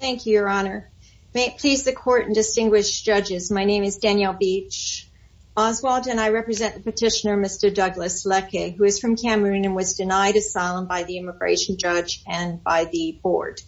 Thank you, Your Honor. May it please the Court and distinguished judges, my name is Danielle Beach Oswald and I represent the petitioner Mr. Douglas Leke who is from Cameroon and was denied asylum by the immigration judge and by the board.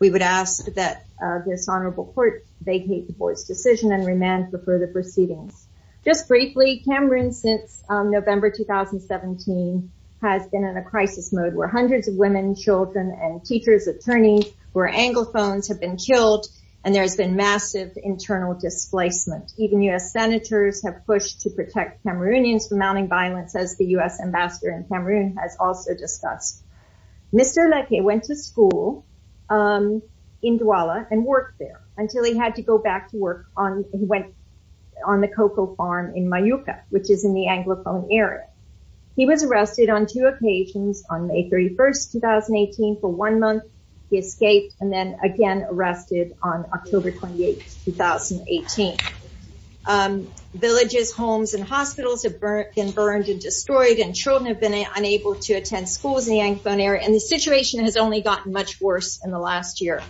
We would ask that this honorable court vacate the board's decision and remand for further proceedings. Just briefly, Cameroon since November 2017 has been in a crisis mode where hundreds of women, children, and teachers, attorneys who are Anglophones have been killed and there's been massive internal displacement. Even U.S. Senators have pushed to protect Cameroonians from mounting violence as the U.S. Ambassador in Cameroon has also discussed. Mr. Leke went to school in Douala and worked there until he had to go back to work on the cocoa farm in Mayuka, which is in the Anglophone area. He was arrested on two occasions on May 31, 2018 for one month. He escaped and then again arrested on October 28, 2018. Villages, homes, and hospitals have been burned and destroyed and children have been unable to attend schools in the Anglophone area and the situation has only gotten much worse in the last year.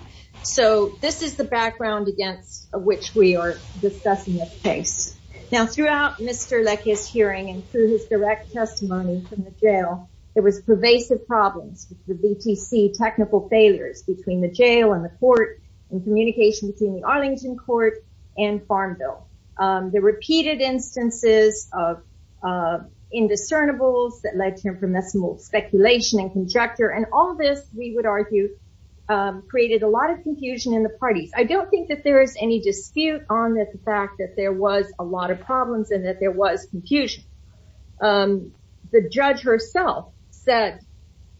So this is the background against which we are discussing this case. Now throughout Mr. Leke's hearing and through his direct testimony from the jail there was pervasive problems with the BTC technical failures between the jail and the court and communication between the Arlington court and Farmville. The repeated instances of indiscernibles that led to information speculation and conjecture and all this we would argue created a lot of confusion in the parties. I don't think that there is any dispute on the fact that there was a lot of problems and that there was confusion. The judge herself said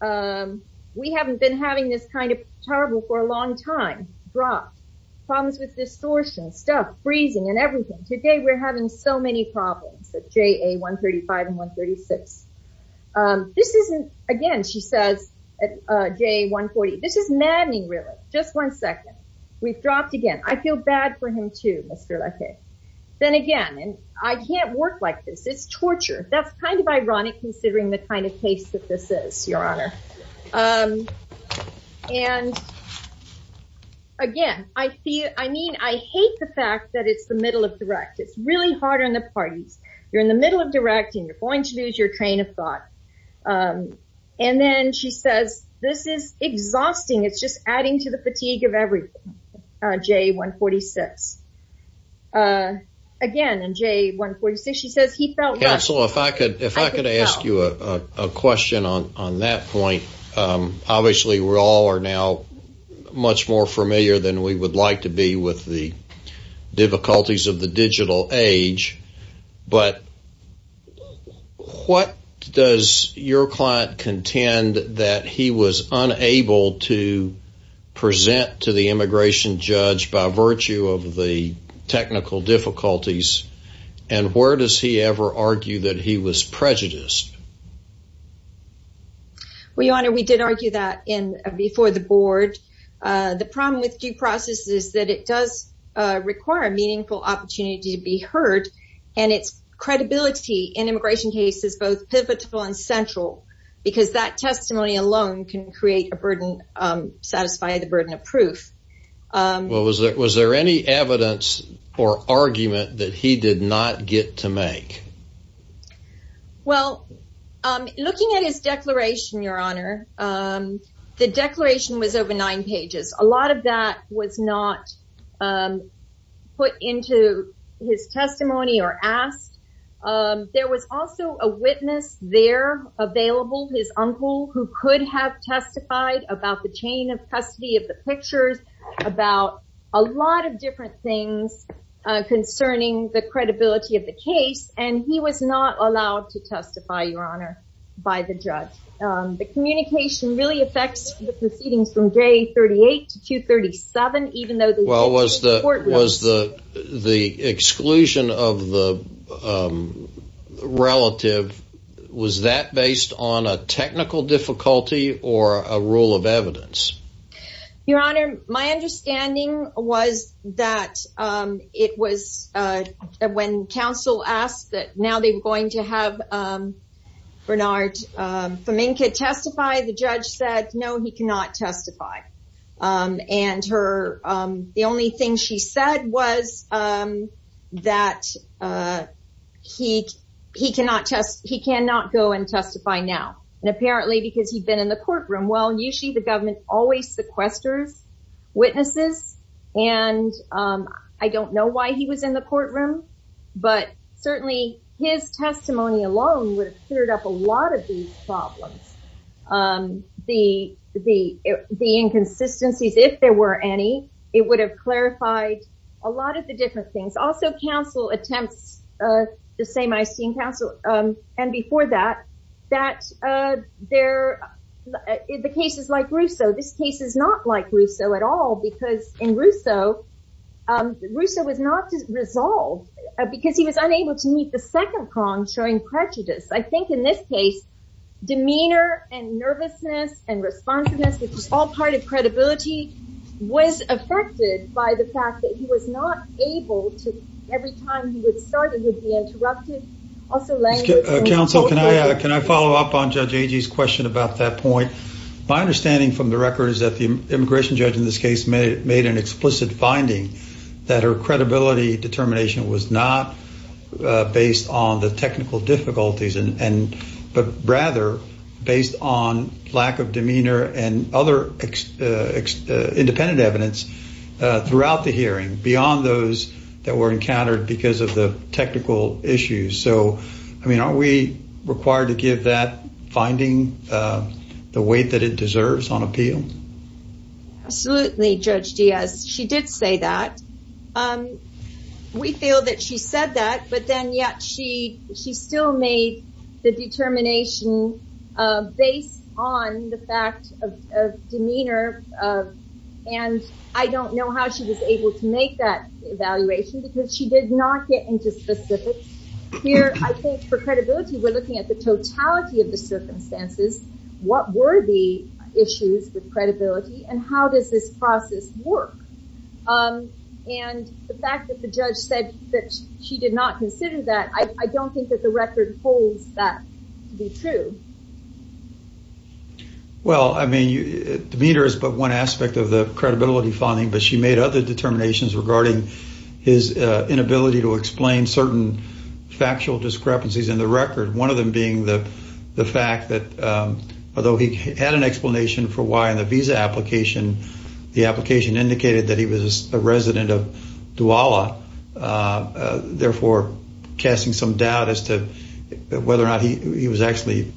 we haven't been having this kind of trouble for a long time. Problems with distortion, stuff freezing and everything. Today we're having so many problems at JA 135 and 136. This isn't, again she says at JA 140, this is we've dropped again. I feel bad for him too, Mr. Leke. Then again, I can't work like this. It's torture. That's kind of ironic considering the kind of case that this is, your honor. And again, I hate the fact that it's the middle of direct. It's really hard on the parties. You're in the middle of direct and you're going to lose your train of thought. And then she says this is exhausting. It's just adding to the fatigue of everything. JA 146. Again, in JA 146, she says he felt. Counselor, if I could ask you a question on that point. Obviously, we all are now much more familiar than we would like to be with the client. Does your client contend that he was unable to present to the immigration judge by virtue of the technical difficulties? And where does he ever argue that he was prejudiced? Well, your honor, we did argue that before the board. The problem with due process is that it does require a meaningful opportunity to be heard. And it's credibility in immigration cases, both pivotal and central, because that testimony alone can create a burden, satisfy the burden of proof. Was there any evidence or argument that he did not get to make? Well, looking at his declaration, your honor, the declaration was over nine pages. A lot of that was not put into his testimony or asked. There was also a witness there available, his uncle, who could have testified about the chain of custody of the pictures, about a lot of different things concerning the credibility of the case. And he was not allowed to testify, your honor, by the judge. The communication really affects the proceedings from day 38 to 237, even though the court was the exclusion of the relative. Was that based on a technical difficulty or a rule of evidence? Your honor, my understanding was that it was when counsel asked that now they were going to have Bernard Faminka testify. The judge said, no, he cannot testify. And the only thing she said was that he cannot go and testify now. And apparently because he'd been in the courtroom. Well, usually the government always sequesters witnesses. And I don't know why he was in the courtroom. But his testimony alone would have cleared up a lot of these problems. The inconsistencies, if there were any, it would have clarified a lot of the different things. Also, counsel attempts, the same Eistein counsel, and before that, the cases like Russo, this case is not like Russo at all. Because in Russo, Russo was not resolved because he was unable to meet the second prong showing prejudice. I think in this case, demeanor and nervousness and responsiveness, which is all part of credibility, was affected by the fact that he was not able to, every time he would start, it would be interrupted. Also language. Counsel, can I follow up on Judge Agee's question about that point? My understanding from the record is that the immigration judge in this case made an explicit finding that her credibility determination was not based on the technical difficulties, but rather based on lack of demeanor and other independent evidence throughout the hearing, beyond those that were encountered because of the technical issues. So, I mean, are we required to give that finding the weight that it deserves on appeal? Absolutely, Judge Diaz. She did say that. We feel that she said that, but then yet she still made the determination based on the fact of demeanor, and I don't know how she was able to make that evaluation because she did not get into specifics. Here, I think for credibility, we're looking at the totality of the circumstances. What were the issues with credibility and how does this process work? And the fact that the judge said that she did not consider that, I don't think that the record holds that to be true. Well, I mean, demeanor is but one aspect of the credibility finding, but she made other determinations regarding his inability to the fact that although he had an explanation for why in the visa application, the application indicated that he was a resident of Douala, therefore casting some doubt as to whether or not he was actually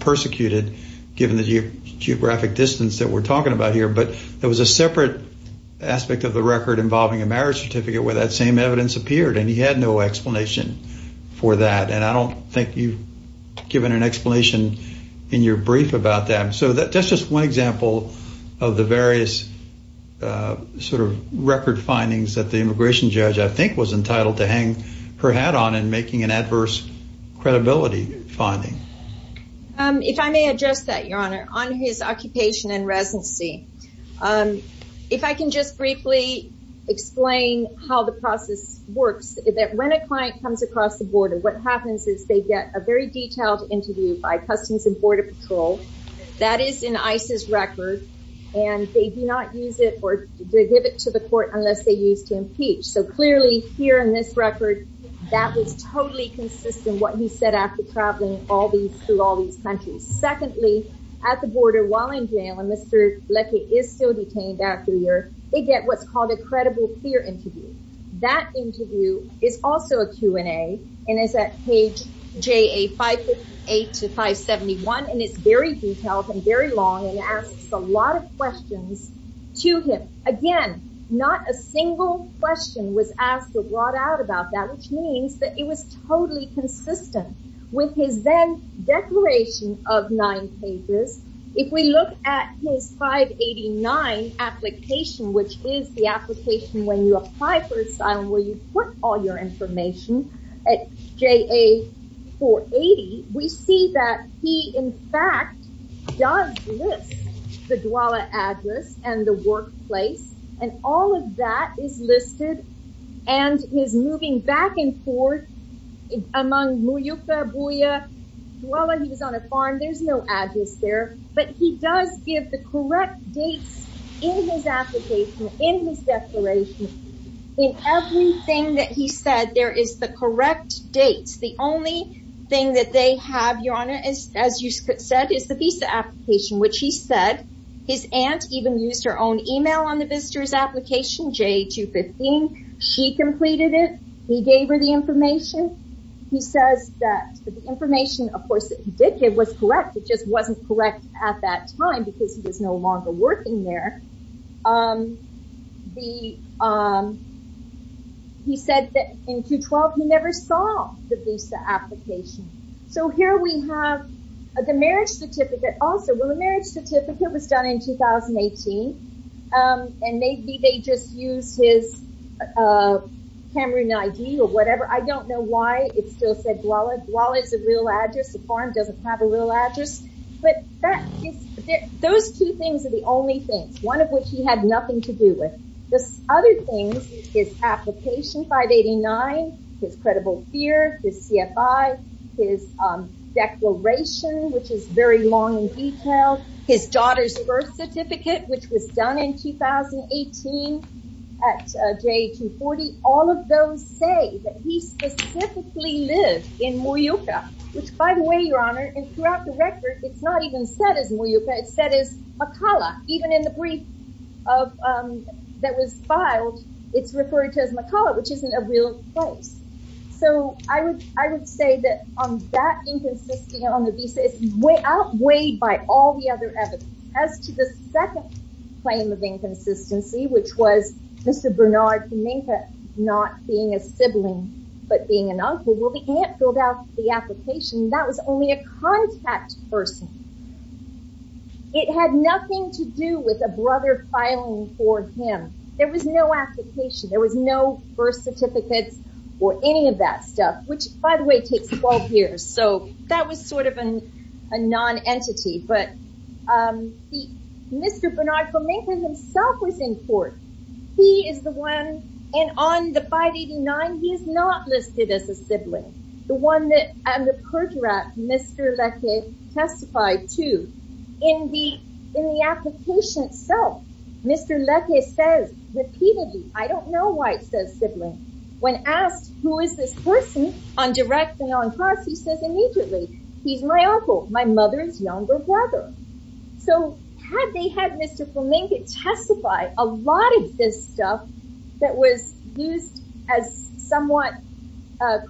persecuted given the geographic distance that we're talking about here. But there was a separate aspect of the record involving a marriage certificate where that evidence appeared and he had no explanation for that, and I don't think you've given an explanation in your brief about that. So that's just one example of the various record findings that the immigration judge, I think, was entitled to hang her hat on in making an adverse credibility finding. If I may address that, Your Honor, on his occupation and residency, if I can just briefly explain how the process works, that when a client comes across the border, what happens is they get a very detailed interview by Customs and Border Patrol that is in ICE's record, and they do not use it or they give it to the court unless they use to impeach. So clearly here in this record, that was totally consistent what he said after traveling through all these countries. Secondly, at the border while in jail, and Mr. Leckie is still detained after a year, they get what's called a credible clear interview. That interview is also a Q&A, and it's at page JA-568-571, and it's very detailed and very long and asks a lot of questions to him. Again, not a single question was asked or brought out about that, which means that it was totally consistent with his then declaration of nine pages. If we look at his 589 application, which is the application when you apply for asylum where you put all your information at JA-480, we see that he, in fact, does list the DWALA address and the workplace, and all of that is listed, and his moving back and forth among Muyuka, Buya, Dwala. He was on a farm. There's no address there, but he does give the correct dates in his application, in his declaration, in everything that he said, there is the correct dates. The only thing that they have, Your Honor, as you said, is the visa application, which he said his aunt even used her own email on the visitor's application, JA-215. She completed it. He gave her the information. He says that the information, of course, that he did give was correct. It just wasn't correct at that time because he was no longer working there. He said that in Q-12, he never saw the visa application. Here we have the marriage certificate. Also, it was done in 2018, and maybe they just used his Cameroon ID or whatever. I don't know why it still said Dwala. Dwala is a real address. The farm doesn't have a real address, but those two things are the only things, one of which he had nothing to do with. The other things, his application, 589, his credible fear, his CFI, his declaration, which is very long and detailed, his daughter's birth certificate, which was done in 2018 at JA-240. All of those say that he specifically lived in Muyuca, which, by the way, Your Honor, and throughout the record, it's not even said as Muyuca. It's said as Makala. Even in the brief that was filed, it's referred to as Makala, which isn't a real place. I would say that that inconsistency on the visa is outweighed by all the other evidence. As to the second claim of inconsistency, which was Mr. Bernard Kaminka not being a sibling, but being an uncle, well, the aunt filled out the application. That was only a contact person. It had nothing to do with a brother filing for him. There was no application. There was no birth certificates or any of that stuff, which, by the way, takes 12 years. That was a non-entity. Mr. Bernard Kaminka himself was in court. He is the one, and on the 589, he is not listed as a sibling. The one that under pertinent, Mr. Leque testified too. In the application itself, Mr. White says sibling. When asked, who is this person on direct and on cross, he says immediately, he's my uncle, my mother's younger brother. Had they had Mr. Kaminka testify, a lot of this stuff that was used as somewhat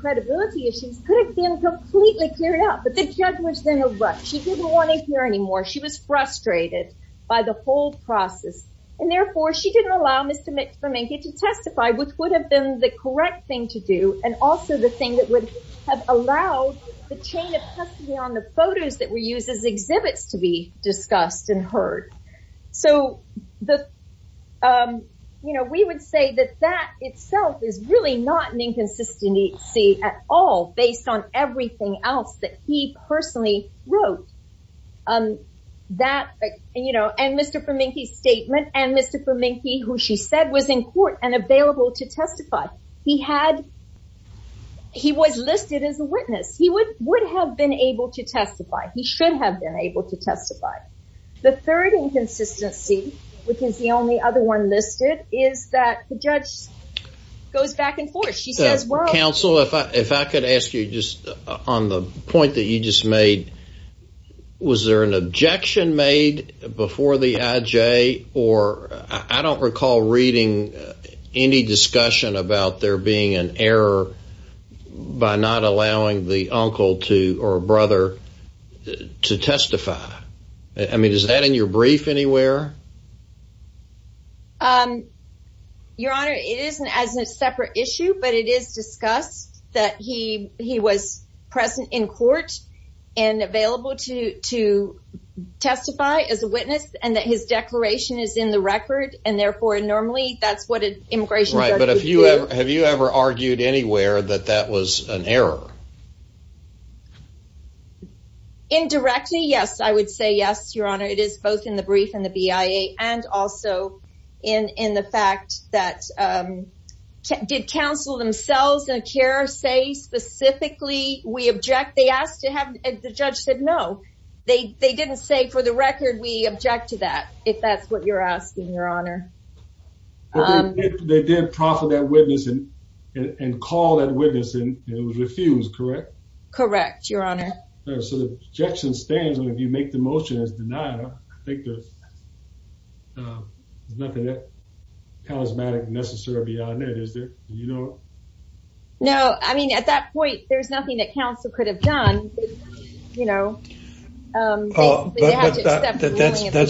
credibility issues could have been completely cleared up, but the judge was in a rut. She didn't want to hear anymore. She was frustrated by the whole process. Therefore, she didn't allow Mr. Kaminka to testify, which would have been the correct thing to do, and also the thing that would have allowed the chain of custody on the photos that were used as exhibits to be discussed and heard. We would say that that itself is really not an and Mr. Kaminka, who she said was in court and available to testify. He was listed as a witness. He would have been able to testify. He should have been able to testify. The third inconsistency, which is the only other one listed, is that the judge goes back and forth. She says, well- Counsel, if I could ask you just on the point that you just made, was there an objection made before the IJ? I don't recall reading any discussion about there being an error by not allowing the uncle or brother to testify. Is that in your brief anywhere? Your Honor, it isn't as a separate issue, but it is discussed that he was present in court and available to testify as a witness and that his declaration is in the record. Therefore, normally that's what an immigration judge would do. Have you ever argued anywhere that that was an error? Indirectly, yes. I would say yes, Your Honor. It is both in the brief and the BIA and also in the fact that- Did counsel themselves and CARE say specifically we object? They asked to have- The judge said no. They didn't say, for the record, we object to that, if that's what you're asking, Your Honor. They did proffer that witness and call that witness and it was refused, correct? Correct, Your Honor. So the objection stands. If you make the motion as denied, I think there's nothing that charismatic necessary beyond that, is there? Do you know? No. I mean, at that point, there's nothing that counsel could have done. That's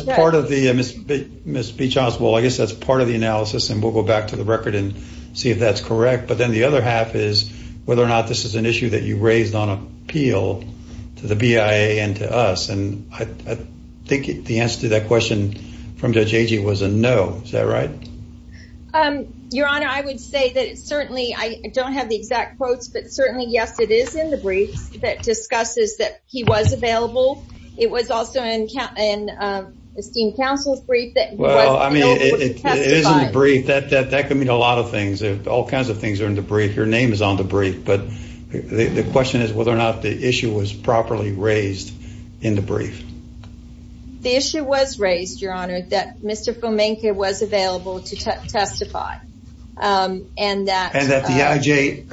part of the- Ms. Beachhouse, well, I guess that's part of the analysis and we'll go back to the record and see if that's correct. But then the other half is whether or not this is issue that you raised on appeal to the BIA and to us. And I think the answer to that question from Judge Agee was a no. Is that right? Your Honor, I would say that it's certainly- I don't have the exact quotes, but certainly, yes, it is in the brief that discusses that he was available. It was also in esteemed counsel's brief that- Well, I mean, it is in the brief. That could mean a lot of things. All kinds of things are in the brief. Your name is on the brief. But the question is whether or not the issue was properly raised in the brief. The issue was raised, Your Honor, that Mr. Fomenko was available to testify and that- And that the IJ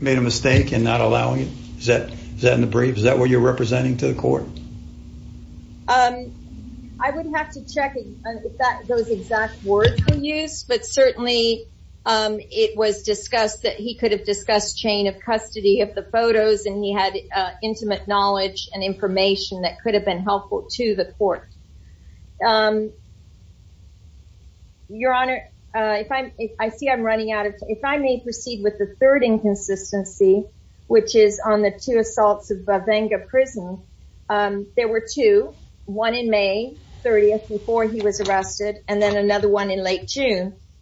made a mistake in not allowing it? Is that in the brief? Is that what you're representing to the court? I would have to check if those exact words were used. But certainly, it was discussed that he could have discussed chain of custody of the photos and he had intimate knowledge and information that could have been helpful to the court. Your Honor, if I'm- I see I'm running out of time. If I may proceed with the third inconsistency, which is on the two assaults of Bavanga Prison, there were two. One in May 30th before he was executed.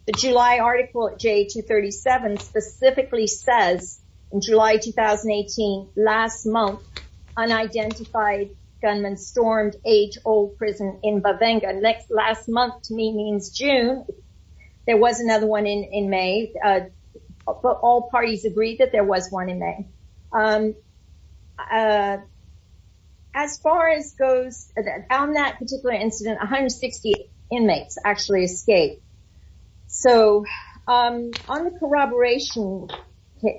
The July article at J237 specifically says, in July 2018, last month, unidentified gunman stormed age-old prison in Bavanga. Last month to me means June. There was another one in May. But all parties agreed that there was one in May. As far as goes on that particular incident, 160 inmates actually escaped. So, on the corroboration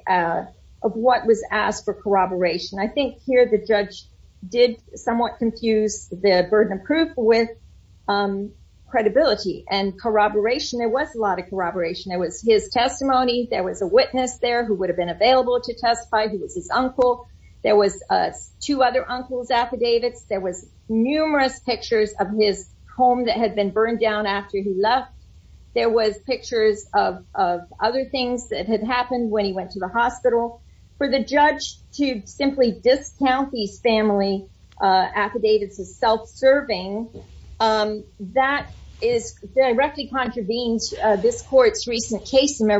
of what was asked for corroboration, I think here the judge did somewhat confuse the burden of proof with credibility and corroboration. There was a lot of corroboration. There was his testimony. There was a witness there who would have been available to testify. He was his uncle. There was two other uncles' affidavits. There was numerous pictures of his home that had been burned down after he left. There was pictures of other things that had happened when he went to the hospital. For the judge to simply discount these family affidavits as self-serving, that directly contravenes this court's recent case in the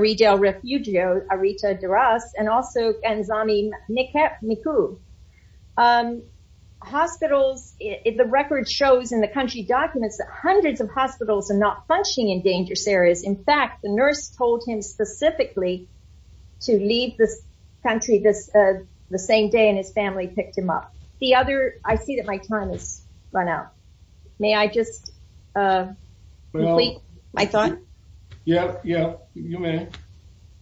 country documents that hundreds of hospitals are not functioning in dangerous areas. In fact, the nurse told him specifically to leave this country the same day, and his family picked him up. I see that my time has run out. May I just complete my thought? Yeah, yeah. You may.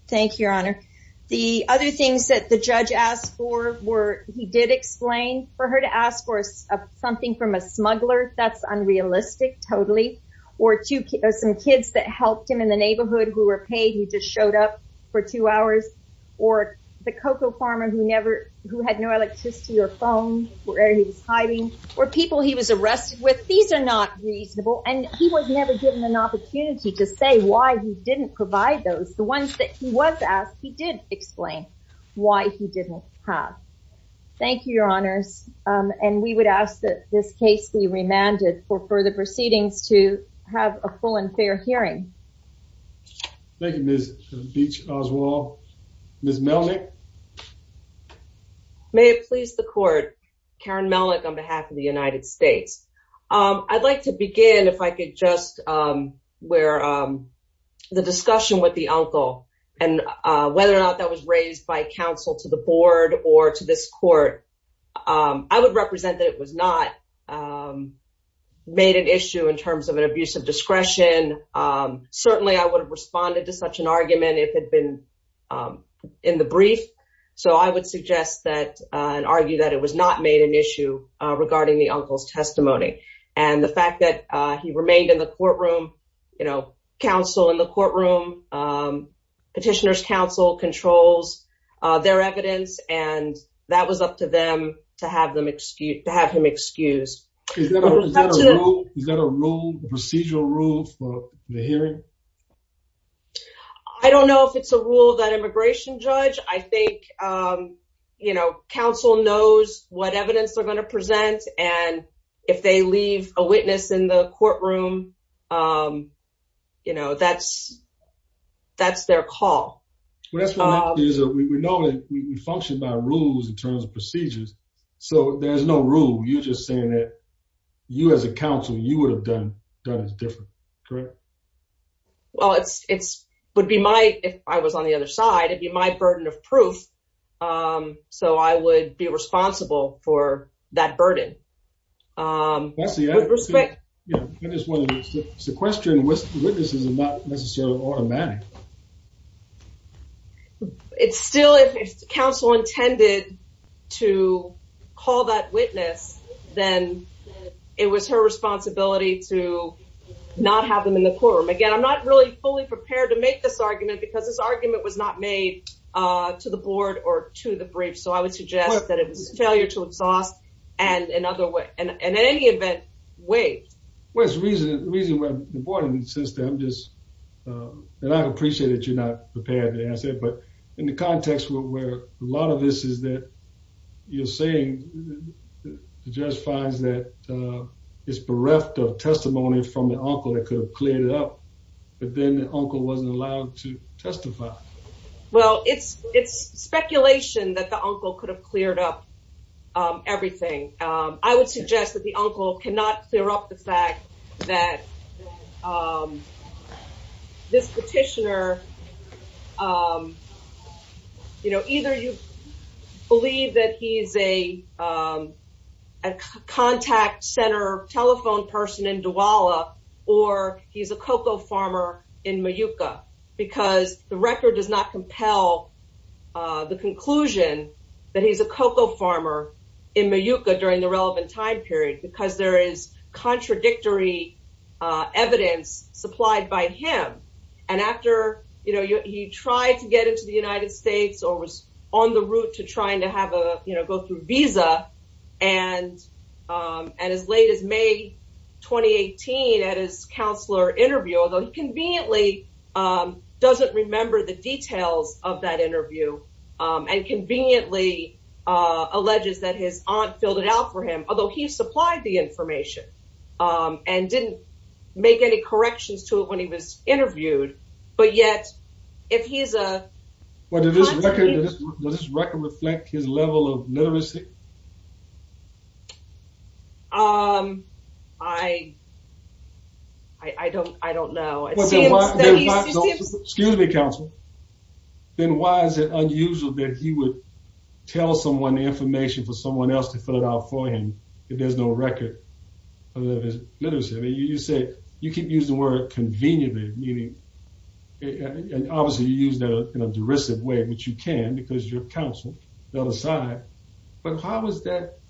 Thank you, Your Honor. The other things that the judge asked for were, he did explain for her to ask for something from a smuggler. That's unrealistic, totally. Or some kids that helped him in the neighborhood who were paid, who just showed up for two hours. Or the cocoa farmer who had no electricity or phone, where he was hiding. Or people he was arrested with. These are not reasonable. And he was never given an opportunity to say why he didn't provide those. The ones that he was asked, he did explain why he didn't have. Thank you, Your Honors. And we would ask that this case be remanded for further proceedings to have a full and fair hearing. Thank you, Ms. Oswald. Ms. Melnyk? May it please the court, Karen Melnyk on behalf of the United States. I'd like to begin, if I could just, where the discussion with the uncle and whether or not that was raised by counsel to the board or to this court, I would represent that it was not made an issue in terms of an abuse of discretion. Certainly, I would have responded to such an argument if it had been in the brief. So I would suggest that and argue that it was not made an issue regarding the uncle's testimony. And the fact that he remained in the courtroom, you know, counsel in the courtroom, petitioner's counsel controls their evidence, and that was up to them to have him excused. Is that a rule, a procedural rule for the hearing? I don't know if it's a rule that immigration judge, I think, you know, counsel knows what evidence they're going to present. And if they leave a witness in the courtroom, you know, that's their call. Well, that's what we know, we function by rules in terms of procedures. So there's no rule, you're just saying that you as a counsel, you would have done it different, correct? Well, it would be my, if I was on the other side, it'd be my burden of proof. So I would be responsible for that burden. Leslie, I just want to sequester witnesses is not necessarily automatic. It's still, if counsel intended to call that witness, then it was her responsibility to not have them in the courtroom. Again, I'm not really fully prepared to make this argument because this argument was not made to the board or to the brief. So I would suggest that it was failure to exhaust and in any event, waived. Well, it's the reason why the board insists that I'm just, and I appreciate that you're not prepared to answer, but in the context where a lot of this is that you're saying the judge finds that it's bereft of testimony from the uncle that could have cleared it up, but then the uncle wasn't allowed to testify. Well, it's speculation that the uncle could have cleared up everything. I would suggest the uncle cannot clear up the fact that this petitioner, you know, either you believe that he's a contact center telephone person in Douala or he's a cocoa farmer in Mayuka because the record does not compel the conclusion that he's a cocoa farmer in Mayuka during the relevant time because there is contradictory evidence supplied by him. And after, you know, he tried to get into the United States or was on the route to trying to have a, you know, go through visa and as late as May, 2018 at his counselor interview, although he conveniently doesn't remember the details of that interview and conveniently alleges that his aunt filled it out for him, although he supplied the information and didn't make any corrections to it when he was interviewed. But yet, if he's a- Does this record reflect his level of literacy? I don't know. Excuse me, counsel. Then why is it unusual that he would tell someone the information for someone else to fill it out for him if there's no record of his literacy? I mean, you said you keep using the word conveniently, meaning, and obviously you use that in a derisive way, which you can because you're a counselor, the other side. But how is that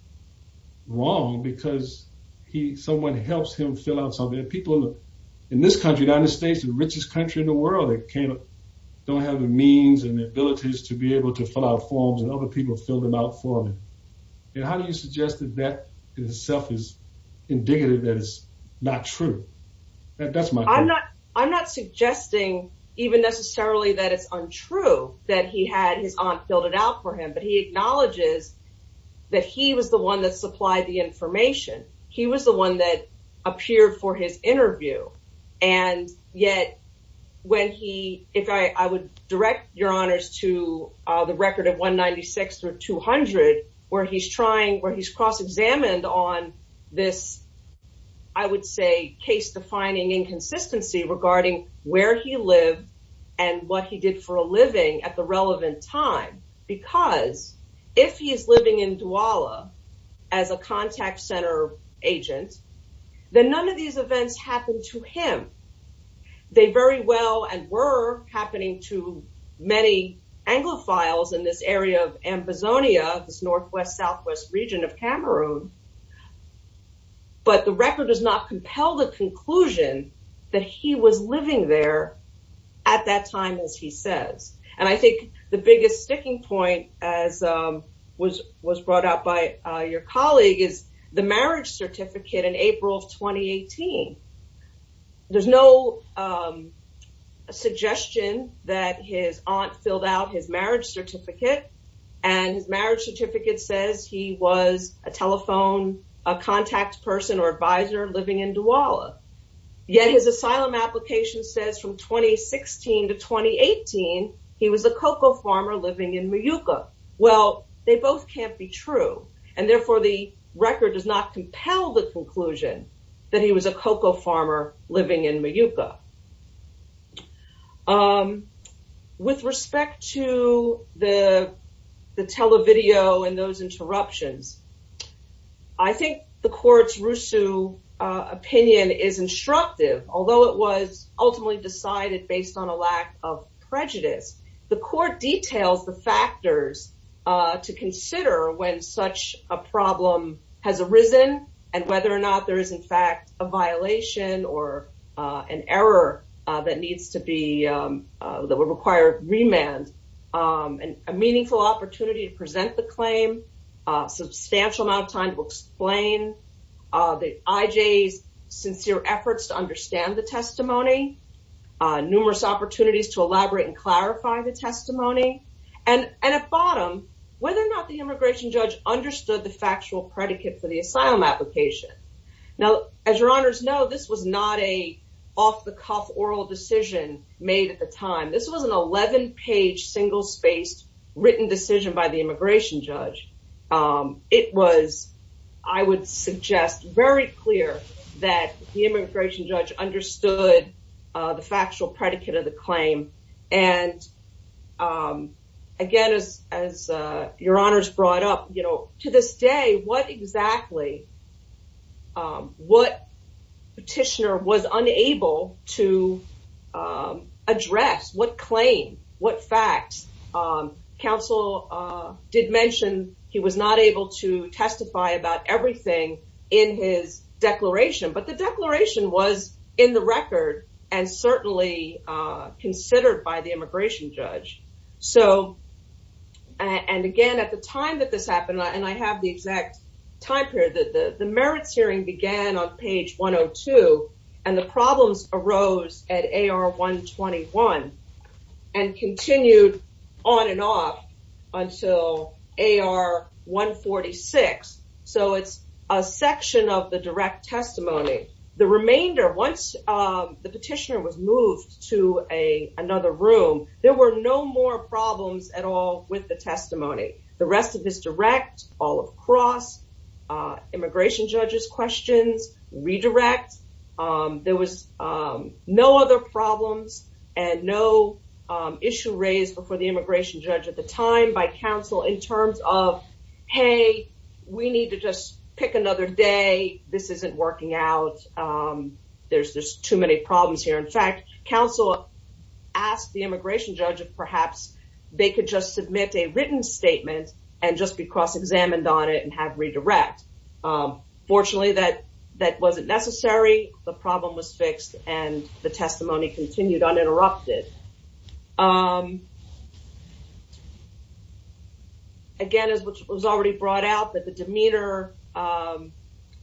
wrong? Because he, someone helps him fill out something and people in this country, United States, the richest country in the world, they don't have the means and the abilities to be able to fill out forms and other people fill them out for him. And how do you suggest that that in itself is indicative that it's not true? I'm not suggesting even necessarily that it's untrue that he had his aunt filled it out for him, but he acknowledges that he was the one that supplied the information. He was the one that appeared for his interview. And yet when he, if I would direct your honors to the record of 196 through 200, where he's trying, where he's cross-examined on this, I would say case defining inconsistency regarding where he lived and what he did for a living at the relevant time. Because if he is living in Douala as a contact center agent, then none of these events happened to him. They very well, and were happening to many Anglophiles in this area of Ambazonia, this Northwest Southwest region of Cameroon. But the record does not compel the conclusion that he was living there at that time as he says. And I think the biggest sticking point as was brought out by your colleague is the marriage certificate in April of 2018. There's no suggestion that his aunt filled out his marriage certificate. And his marriage certificate says he was a telephone, a contact person or advisor living in Douala. Yet his 2016 to 2018, he was a cocoa farmer living in Mayuka. Well, they both can't be true. And therefore the record does not compel the conclusion that he was a cocoa farmer living in Mayuka. With respect to the, the televideo and those interruptions, I think the court's Rusu opinion is instructive. Although it was ultimately decided based on a lack of prejudice, the court details the factors to consider when such a problem has arisen and whether or not there is in fact a violation or an error that needs to be, that would require remand. And a meaningful opportunity to present the claim, a substantial amount of time to explain the IJ's sincere efforts to understand the testimony, numerous opportunities to elaborate and clarify the testimony. And at bottom, whether or not the immigration judge understood the factual predicate for the asylum application. Now, as your honors know, this was not a off the cuff oral decision made at the time. This was an 11 page single spaced written decision by the immigration judge. It was, I would suggest very clear that the immigration judge understood the factual predicate of the claim. And again, as, as your honors brought up, you know, to this day, what petitioner was unable to address what claim, what facts. Council did mention he was not able to testify about everything in his declaration, but the declaration was in the record and certainly considered by the immigration judge. So, and again, at the time that this happened, and I have the exact time period, the merits hearing began on page 102 and the problems arose at AR 121 and continued on and off until AR 146. So it's a section of the direct testimony. The remainder, once the petitioner was moved to another room, there were no more problems at all with the testimony. The rest of this direct, all of cross, immigration judge's questions, redirect. There was no other problems and no issue raised before the immigration judge at the time by council in terms of, Hey, we need to just pick another day. This isn't working out. There's, there's too many problems here. In fact, council asked the immigration judge if perhaps they could just submit a written statement and just be cross-examined on it and have redirect. Fortunately, that, that wasn't necessary. The problem was fixed and the testimony continued uninterrupted. Again, as was already brought out that the demeanor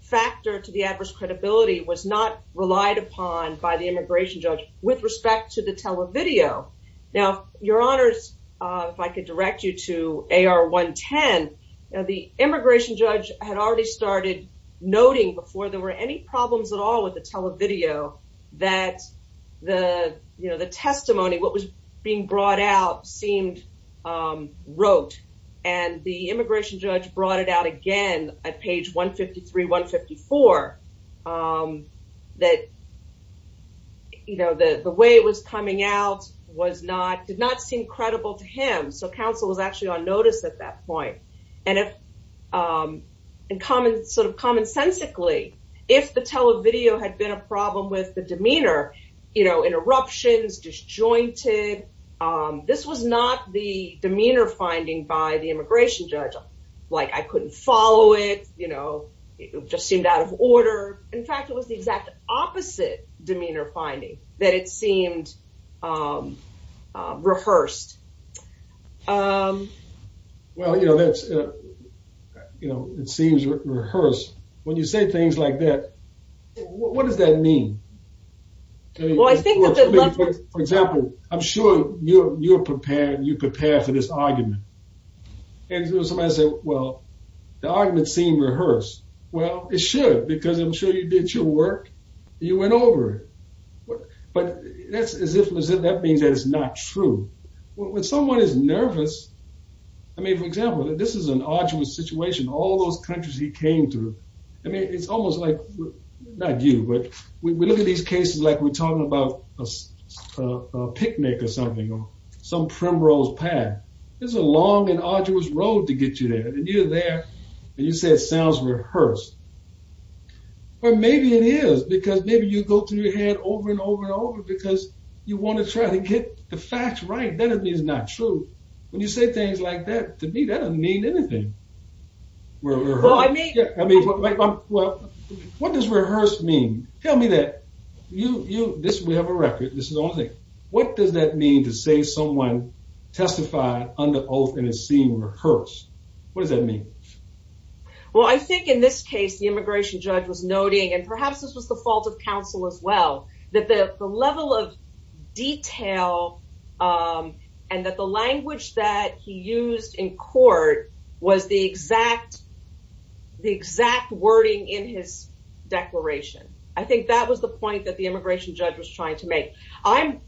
factor to the adverse credibility was not relied upon by the immigration judge with respect to the televideo. Now, your honors, if I could direct you to AR 110, the immigration judge had already started noting before there were any problems at all with the televideo that the, you know, the testimony, what was being brought out seemed, wrote and the immigration judge brought it out again at page 153, 154 that, you know, the, the way it was coming out was not, did not seem credible to him. So council was actually on notice at that point. And if in common sort of commonsensically, if the televideo had been a problem with the demeanor, you know, interruptions disjointed this was not the demeanor finding by the immigration judge. Like I couldn't follow it, you know, it just seemed out of order. In fact, it was the exact opposite demeanor finding that it seemed rehearsed. Well, you know, that's, you know, it seems rehearsed when you say things like that. What does that mean? For example, I'm sure you're, you're prepared, you prepare for this argument. And somebody said, well, the argument seemed rehearsed. Well, it should, because I'm sure you did your work, you went over it. But that's as if that means that it's not true. When someone is nervous, I mean, for example, this is an arduous situation, all those countries he came through. I mean, it's almost like, not you, but we look at these cases, like we're talking about a picnic or something, or some primrose pad. It's a long and arduous road to get you there. And you're there, and you say it sounds rehearsed. Or maybe it is, because maybe you go through your head over and over and over, because you want to try to get the facts right. Then it means not true. When you say things like that, to me, that doesn't mean anything. I mean, what does rehearse mean? Tell me that you, you, this, we have a record, this is all I think. What does that mean to say someone testified under oath and it seemed rehearsed? What does that mean? Well, I think in this case, the immigration judge was noting, and perhaps this was the fault of counsel as well, that the level of detail and that the language that he used in court was the exact, the exact wording in his declaration. I think that was the point that the immigration judge was trying to make. I'm,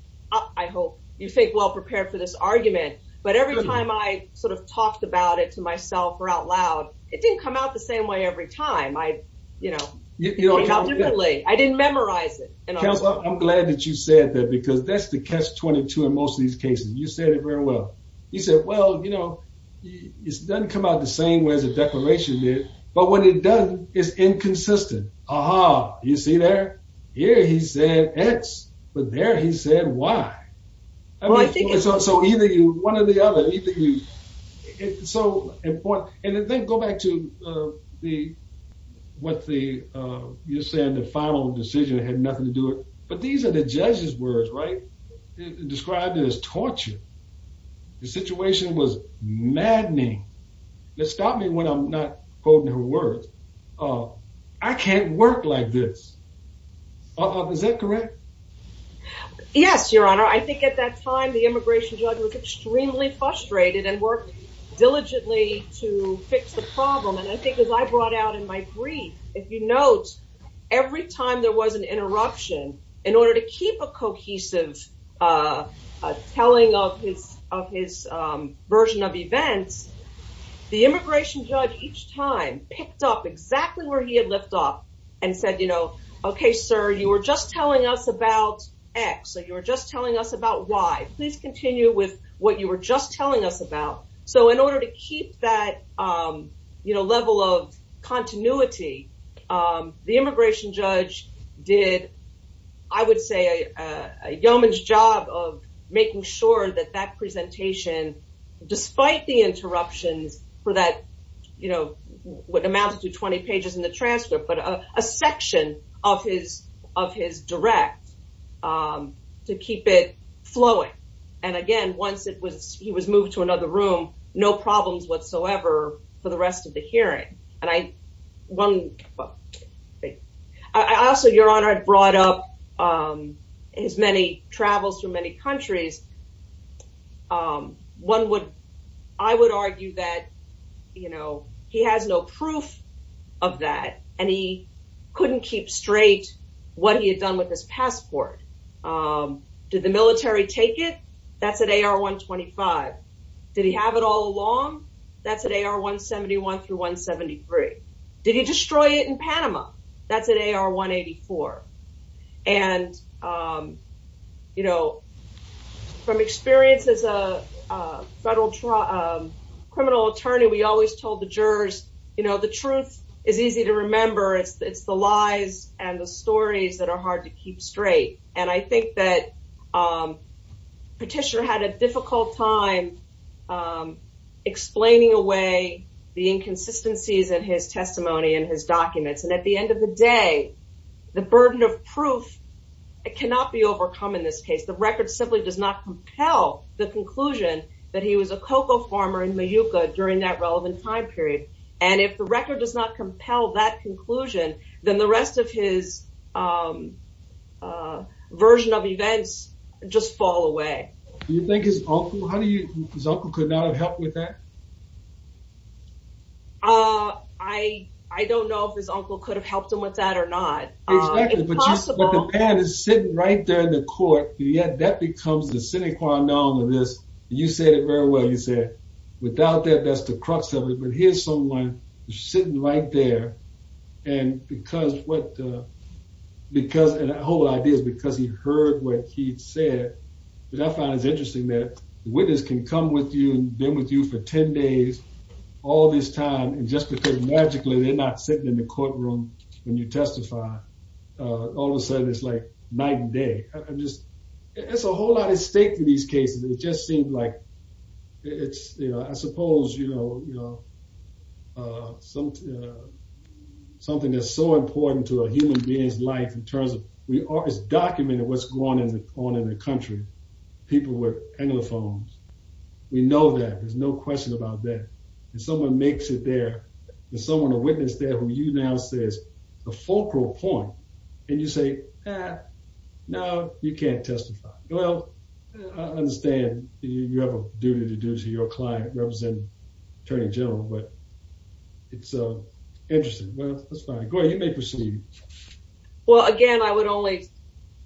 I hope you think well prepared for this argument, but every time I sort of talked about it to myself or out loud, it didn't come out the same way every time. I, you know, I didn't memorize it. I'm glad that you said that because that's the catch-22 in most of these cases. You said it very well. You said, well, you know, it doesn't come out the same way as the declaration did, but when it does, it's inconsistent. Aha, you see there? Here he said X, but there he said Y. So either you, one or the other, either you, it's so important. And then go back to the, what the, you said the final decision had nothing to do it, but these are the judge's words, right? Described it as torture. The situation was maddening. It stopped me when I'm not quoting her words. I can't work like this. Is that correct? Yes, your honor. I think at that time, the immigration judge was extremely frustrated and worked diligently to fix the problem. And I think as I brought out in my brief, if you note, every time there was an interruption in order to keep a cohesive telling of his, of his version of events, the immigration judge each time picked up exactly where he had left off and said, you know, okay, sir, you were just telling us about X. So you were just telling us about Y. Please continue with what you were just telling us about. So in order to keep that, you know, level of continuity, the immigration judge did, I would say, a yeoman's job of making sure that that presentation, despite the interruptions for that, you know, what amounted to 20 pages in the transcript, but a section of his, of his direct to keep it flowing. And again, once it was, he was moved to another room, no problems whatsoever for the rest of the hearing. And I, one, I also, your honor, I brought up his many travels from many countries. One would, I would argue that, you know, he has no proof of that and he couldn't keep straight what he had done with his passport. Did the military take it? That's at AR 125. Did he have it all along? That's at AR 171 through 173. Did he destroy it in Panama? That's at AR 184. And, you know, from experience as a federal criminal attorney, we always told the jurors, you know, the truth is easy to remember. It's the lies and the stories that are hard to keep straight. And I think that Petitioner had a difficult time explaining away the inconsistencies in his testimony and his documents. And at the end of the day, the burden of proof cannot be overcome in this case. The record simply does not compel the And if the record does not compel that conclusion, then the rest of his version of events just fall away. Do you think his uncle, how do you, his uncle could not have helped with that? I don't know if his uncle could have helped him with that or not. Exactly, but the pad is sitting right there in the court. Yet that becomes the sine qua non of this. You said it very well. You said without that, that's the crux of it. But here's someone sitting right there. And because what, because the whole idea is because he heard what he said, what I found is interesting that the witness can come with you and been with you for 10 days, all this time, and just because magically they're not sitting in the courtroom when you testify, all of a sudden it's like night and day. I'm just, it's a whole lot at stake for these cases. It just seemed like it's, you know, I suppose, you know, something that's so important to a human being's life in terms of, we are, it's documented what's going on in the country, people with anglophones. We know that, there's no question about that. And someone makes it there, and someone, a witness there who you now say is a focal point, and you say, no, you can't testify. Well, I understand you have a duty to do to your client, representing attorney general, but it's interesting. Well, that's fine. Go ahead, you may proceed. Well, again, I would only,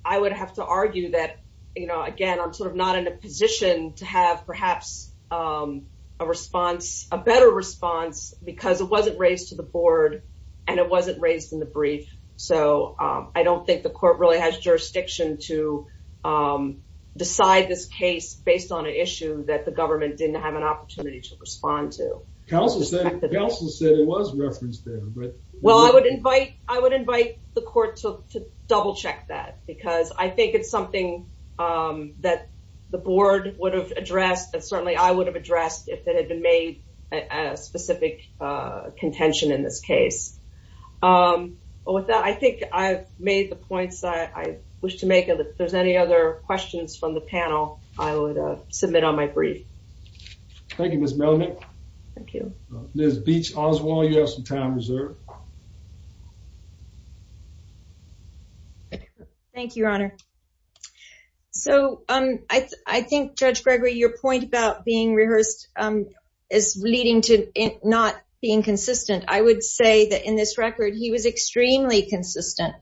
I would have to argue that, you know, again, I'm sort of not in a position to have perhaps a response, a better response, because it wasn't raised to the board, and it wasn't raised in the brief. So, I don't think the court really has jurisdiction to decide this case based on an issue that the government didn't have an opportunity to respond to. Counsel said it was referenced there. Well, I would invite, I would invite the court to double check that, because I think it's something that the board would have addressed, and certainly I would have addressed if it had been made a specific contention in this case. With that, I think I've made the points that I wish to make. If there's any other questions from the panel, I would submit on my brief. Thank you, Ms. Melamed. Thank you. Ms. Beach Oswald, you have some time reserved. Thank you, Your Honor. So, I think, Judge Gregory, your point about being rehearsed is leading to it not being consistent. I would say that in this record, he was extremely consistent.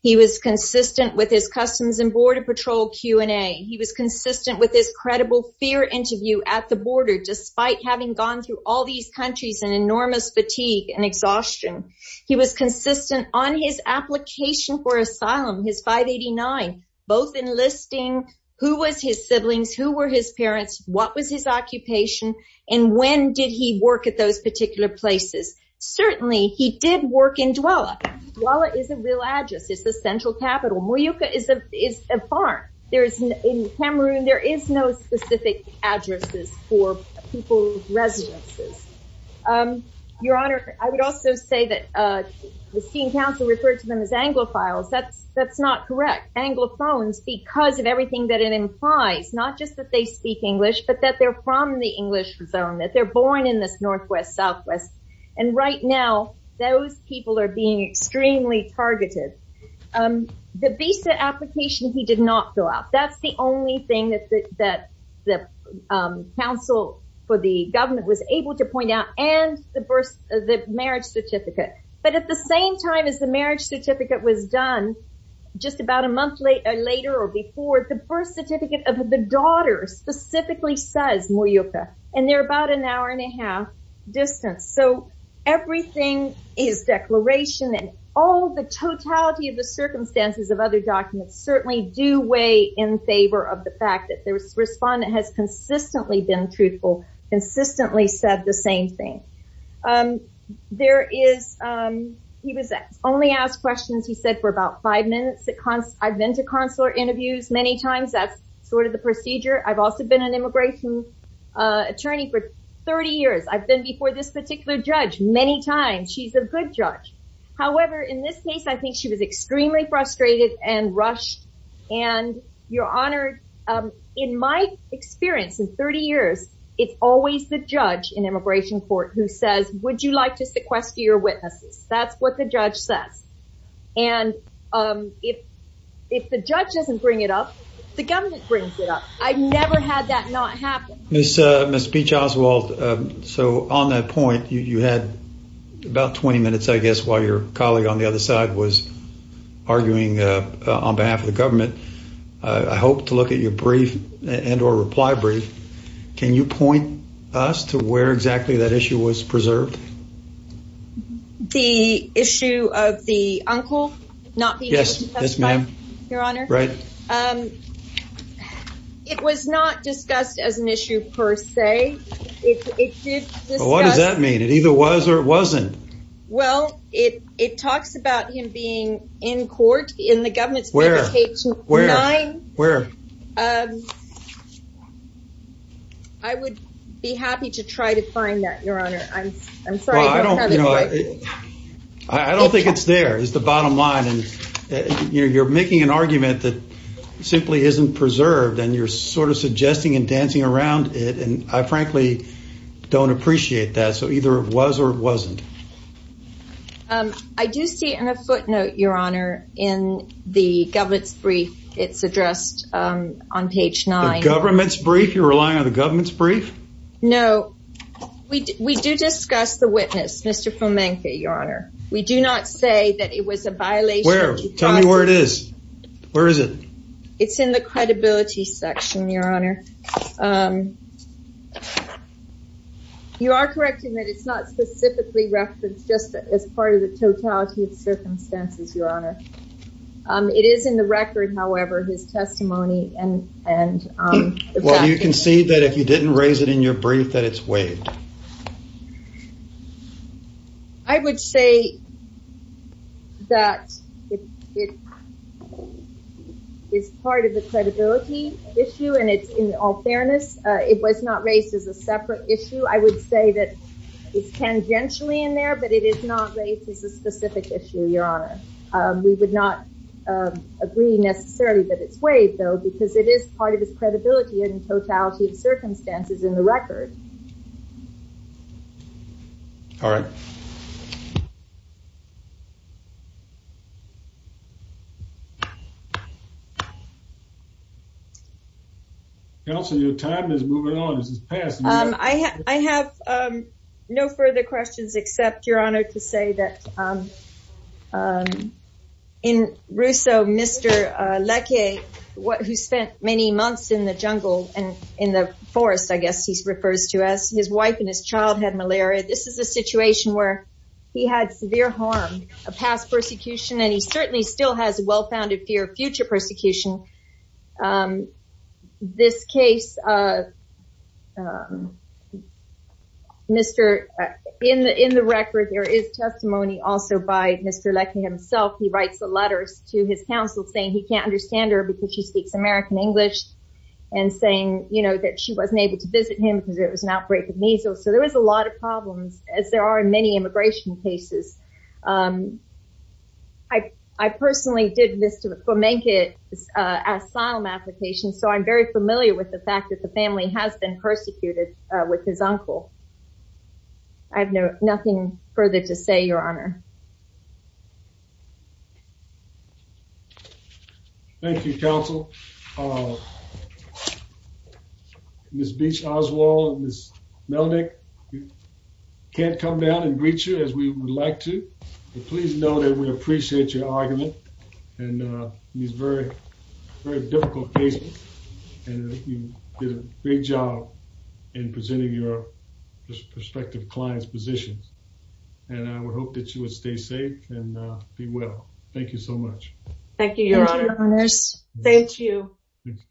He was consistent with his Customs and Border Patrol Q&A. He was consistent with his credible fear interview at the border, despite having gone through all these countries and enormous fatigue and exhaustion. He was consistent on his application for asylum, his 589, both enlisting who was his siblings, who were his parents, what was his occupation, and when did he work at those particular places. Certainly, he did work in Douala. Douala is a real address. It's the central capital. Muyuca is a farm. There is, in Cameroon, there is no specific addresses for people with residences. Your Honor, I would also say that seeing counsel refer to them as anglophiles, that's not correct. Anglophones, because of everything that it implies, not just that they speak English, but that they're from the English zone, that they're born in this Northwest, Southwest, and right now, those people are being extremely targeted. The visa application, he did not fill out. That's the only thing that the counsel for the government was able to point out, and the marriage certificate, but at the same time as the marriage certificate was done, just about a month later or before, the birth certificate of the daughter specifically says Muyuca, and they're about an hour and a half distance, so everything is declaration, and all the totality of the circumstances of other documents certainly do in favor of the fact that the respondent has consistently been truthful, consistently said the same thing. There is, he was only asked questions, he said, for about five minutes. I've been to consular interviews many times. That's sort of the procedure. I've also been an immigration attorney for 30 years. I've been before this particular judge many times. She's a good judge. However, in this case, I think she was extremely frustrated and rushed, and you're honored. In my experience in 30 years, it's always the judge in immigration court who says, would you like to sequester your witnesses? That's what the judge says, and if the judge doesn't bring it up, the government brings it up. I've never had that not happen. Ms. Beach-Oswald, so on that point, you had about 20 minutes, I guess, while your colleague on the other side was arguing on behalf of the government. I hope to look at your brief and or reply brief. Can you point us to where exactly that issue was preserved? The issue of the uncle not being able to testify? Yes, ma'am. Right. It was not discussed as an issue per se. What does that mean? It either was or it wasn't. Well, it talks about him being in court in the government's favor. Page nine. Where? I would be happy to try to find that, your honor. I'm sorry. I don't think it's there, is the bottom line. You're making an argument that simply isn't preserved, and you're sort of suggesting and dancing around it, and I frankly don't appreciate that. So either it was or it wasn't. I do see in a footnote, your honor, in the government's brief. It's addressed on page nine. Government's brief? You're relying on the government's brief? No. We do discuss the witness, Mr. Fomenka, your honor. We do not say that it was a violation. Where? Tell me where it is. Where is it? It's in the credibility section, your honor. You are correct in that it's not specifically referenced just as part of the totality of circumstances, your honor. It is in the record, however, his testimony and... You can see that if you didn't raise it in your brief, that it's waived. I would say that it is part of the credibility issue, and in all fairness, it was not raised as a separate issue. I would say that it's tangentially in there, but it is not raised as a specific issue, your honor. We would not agree necessarily that it's waived, because it is part of his credibility and totality of circumstances in the record. All right. Counselor, your time is moving on. This is past. I have no further questions, except, your honor, to say that in Russo, Mr. Leckie, who spent many months in the jungle and in the forest, I guess he refers to as, his wife and his child had malaria. This is a situation where he had severe harm, a past persecution, and he certainly still has well-founded fear of future persecution. In the record, there is testimony also by Mr. Leckie himself. He writes the letters to his counsel, saying he can't understand her because she speaks American English, and saying that she wasn't able to visit him because there was an outbreak of measles. So, there was a lot of problems, as there are in many immigration cases. Asylum applications. So, I'm very familiar with the fact that the family has been persecuted with his uncle. I have nothing further to say, your honor. Thank you, counsel. Ms. Beach Oswald and Ms. Melnyk, we can't come down and greet you as we would like to, but please know that we appreciate your argument in these very difficult cases, and you did a great job in presenting your prospective client's positions, and I would hope that you would stay safe and be well. Thank you so much. Thank you, your honor. Thank you.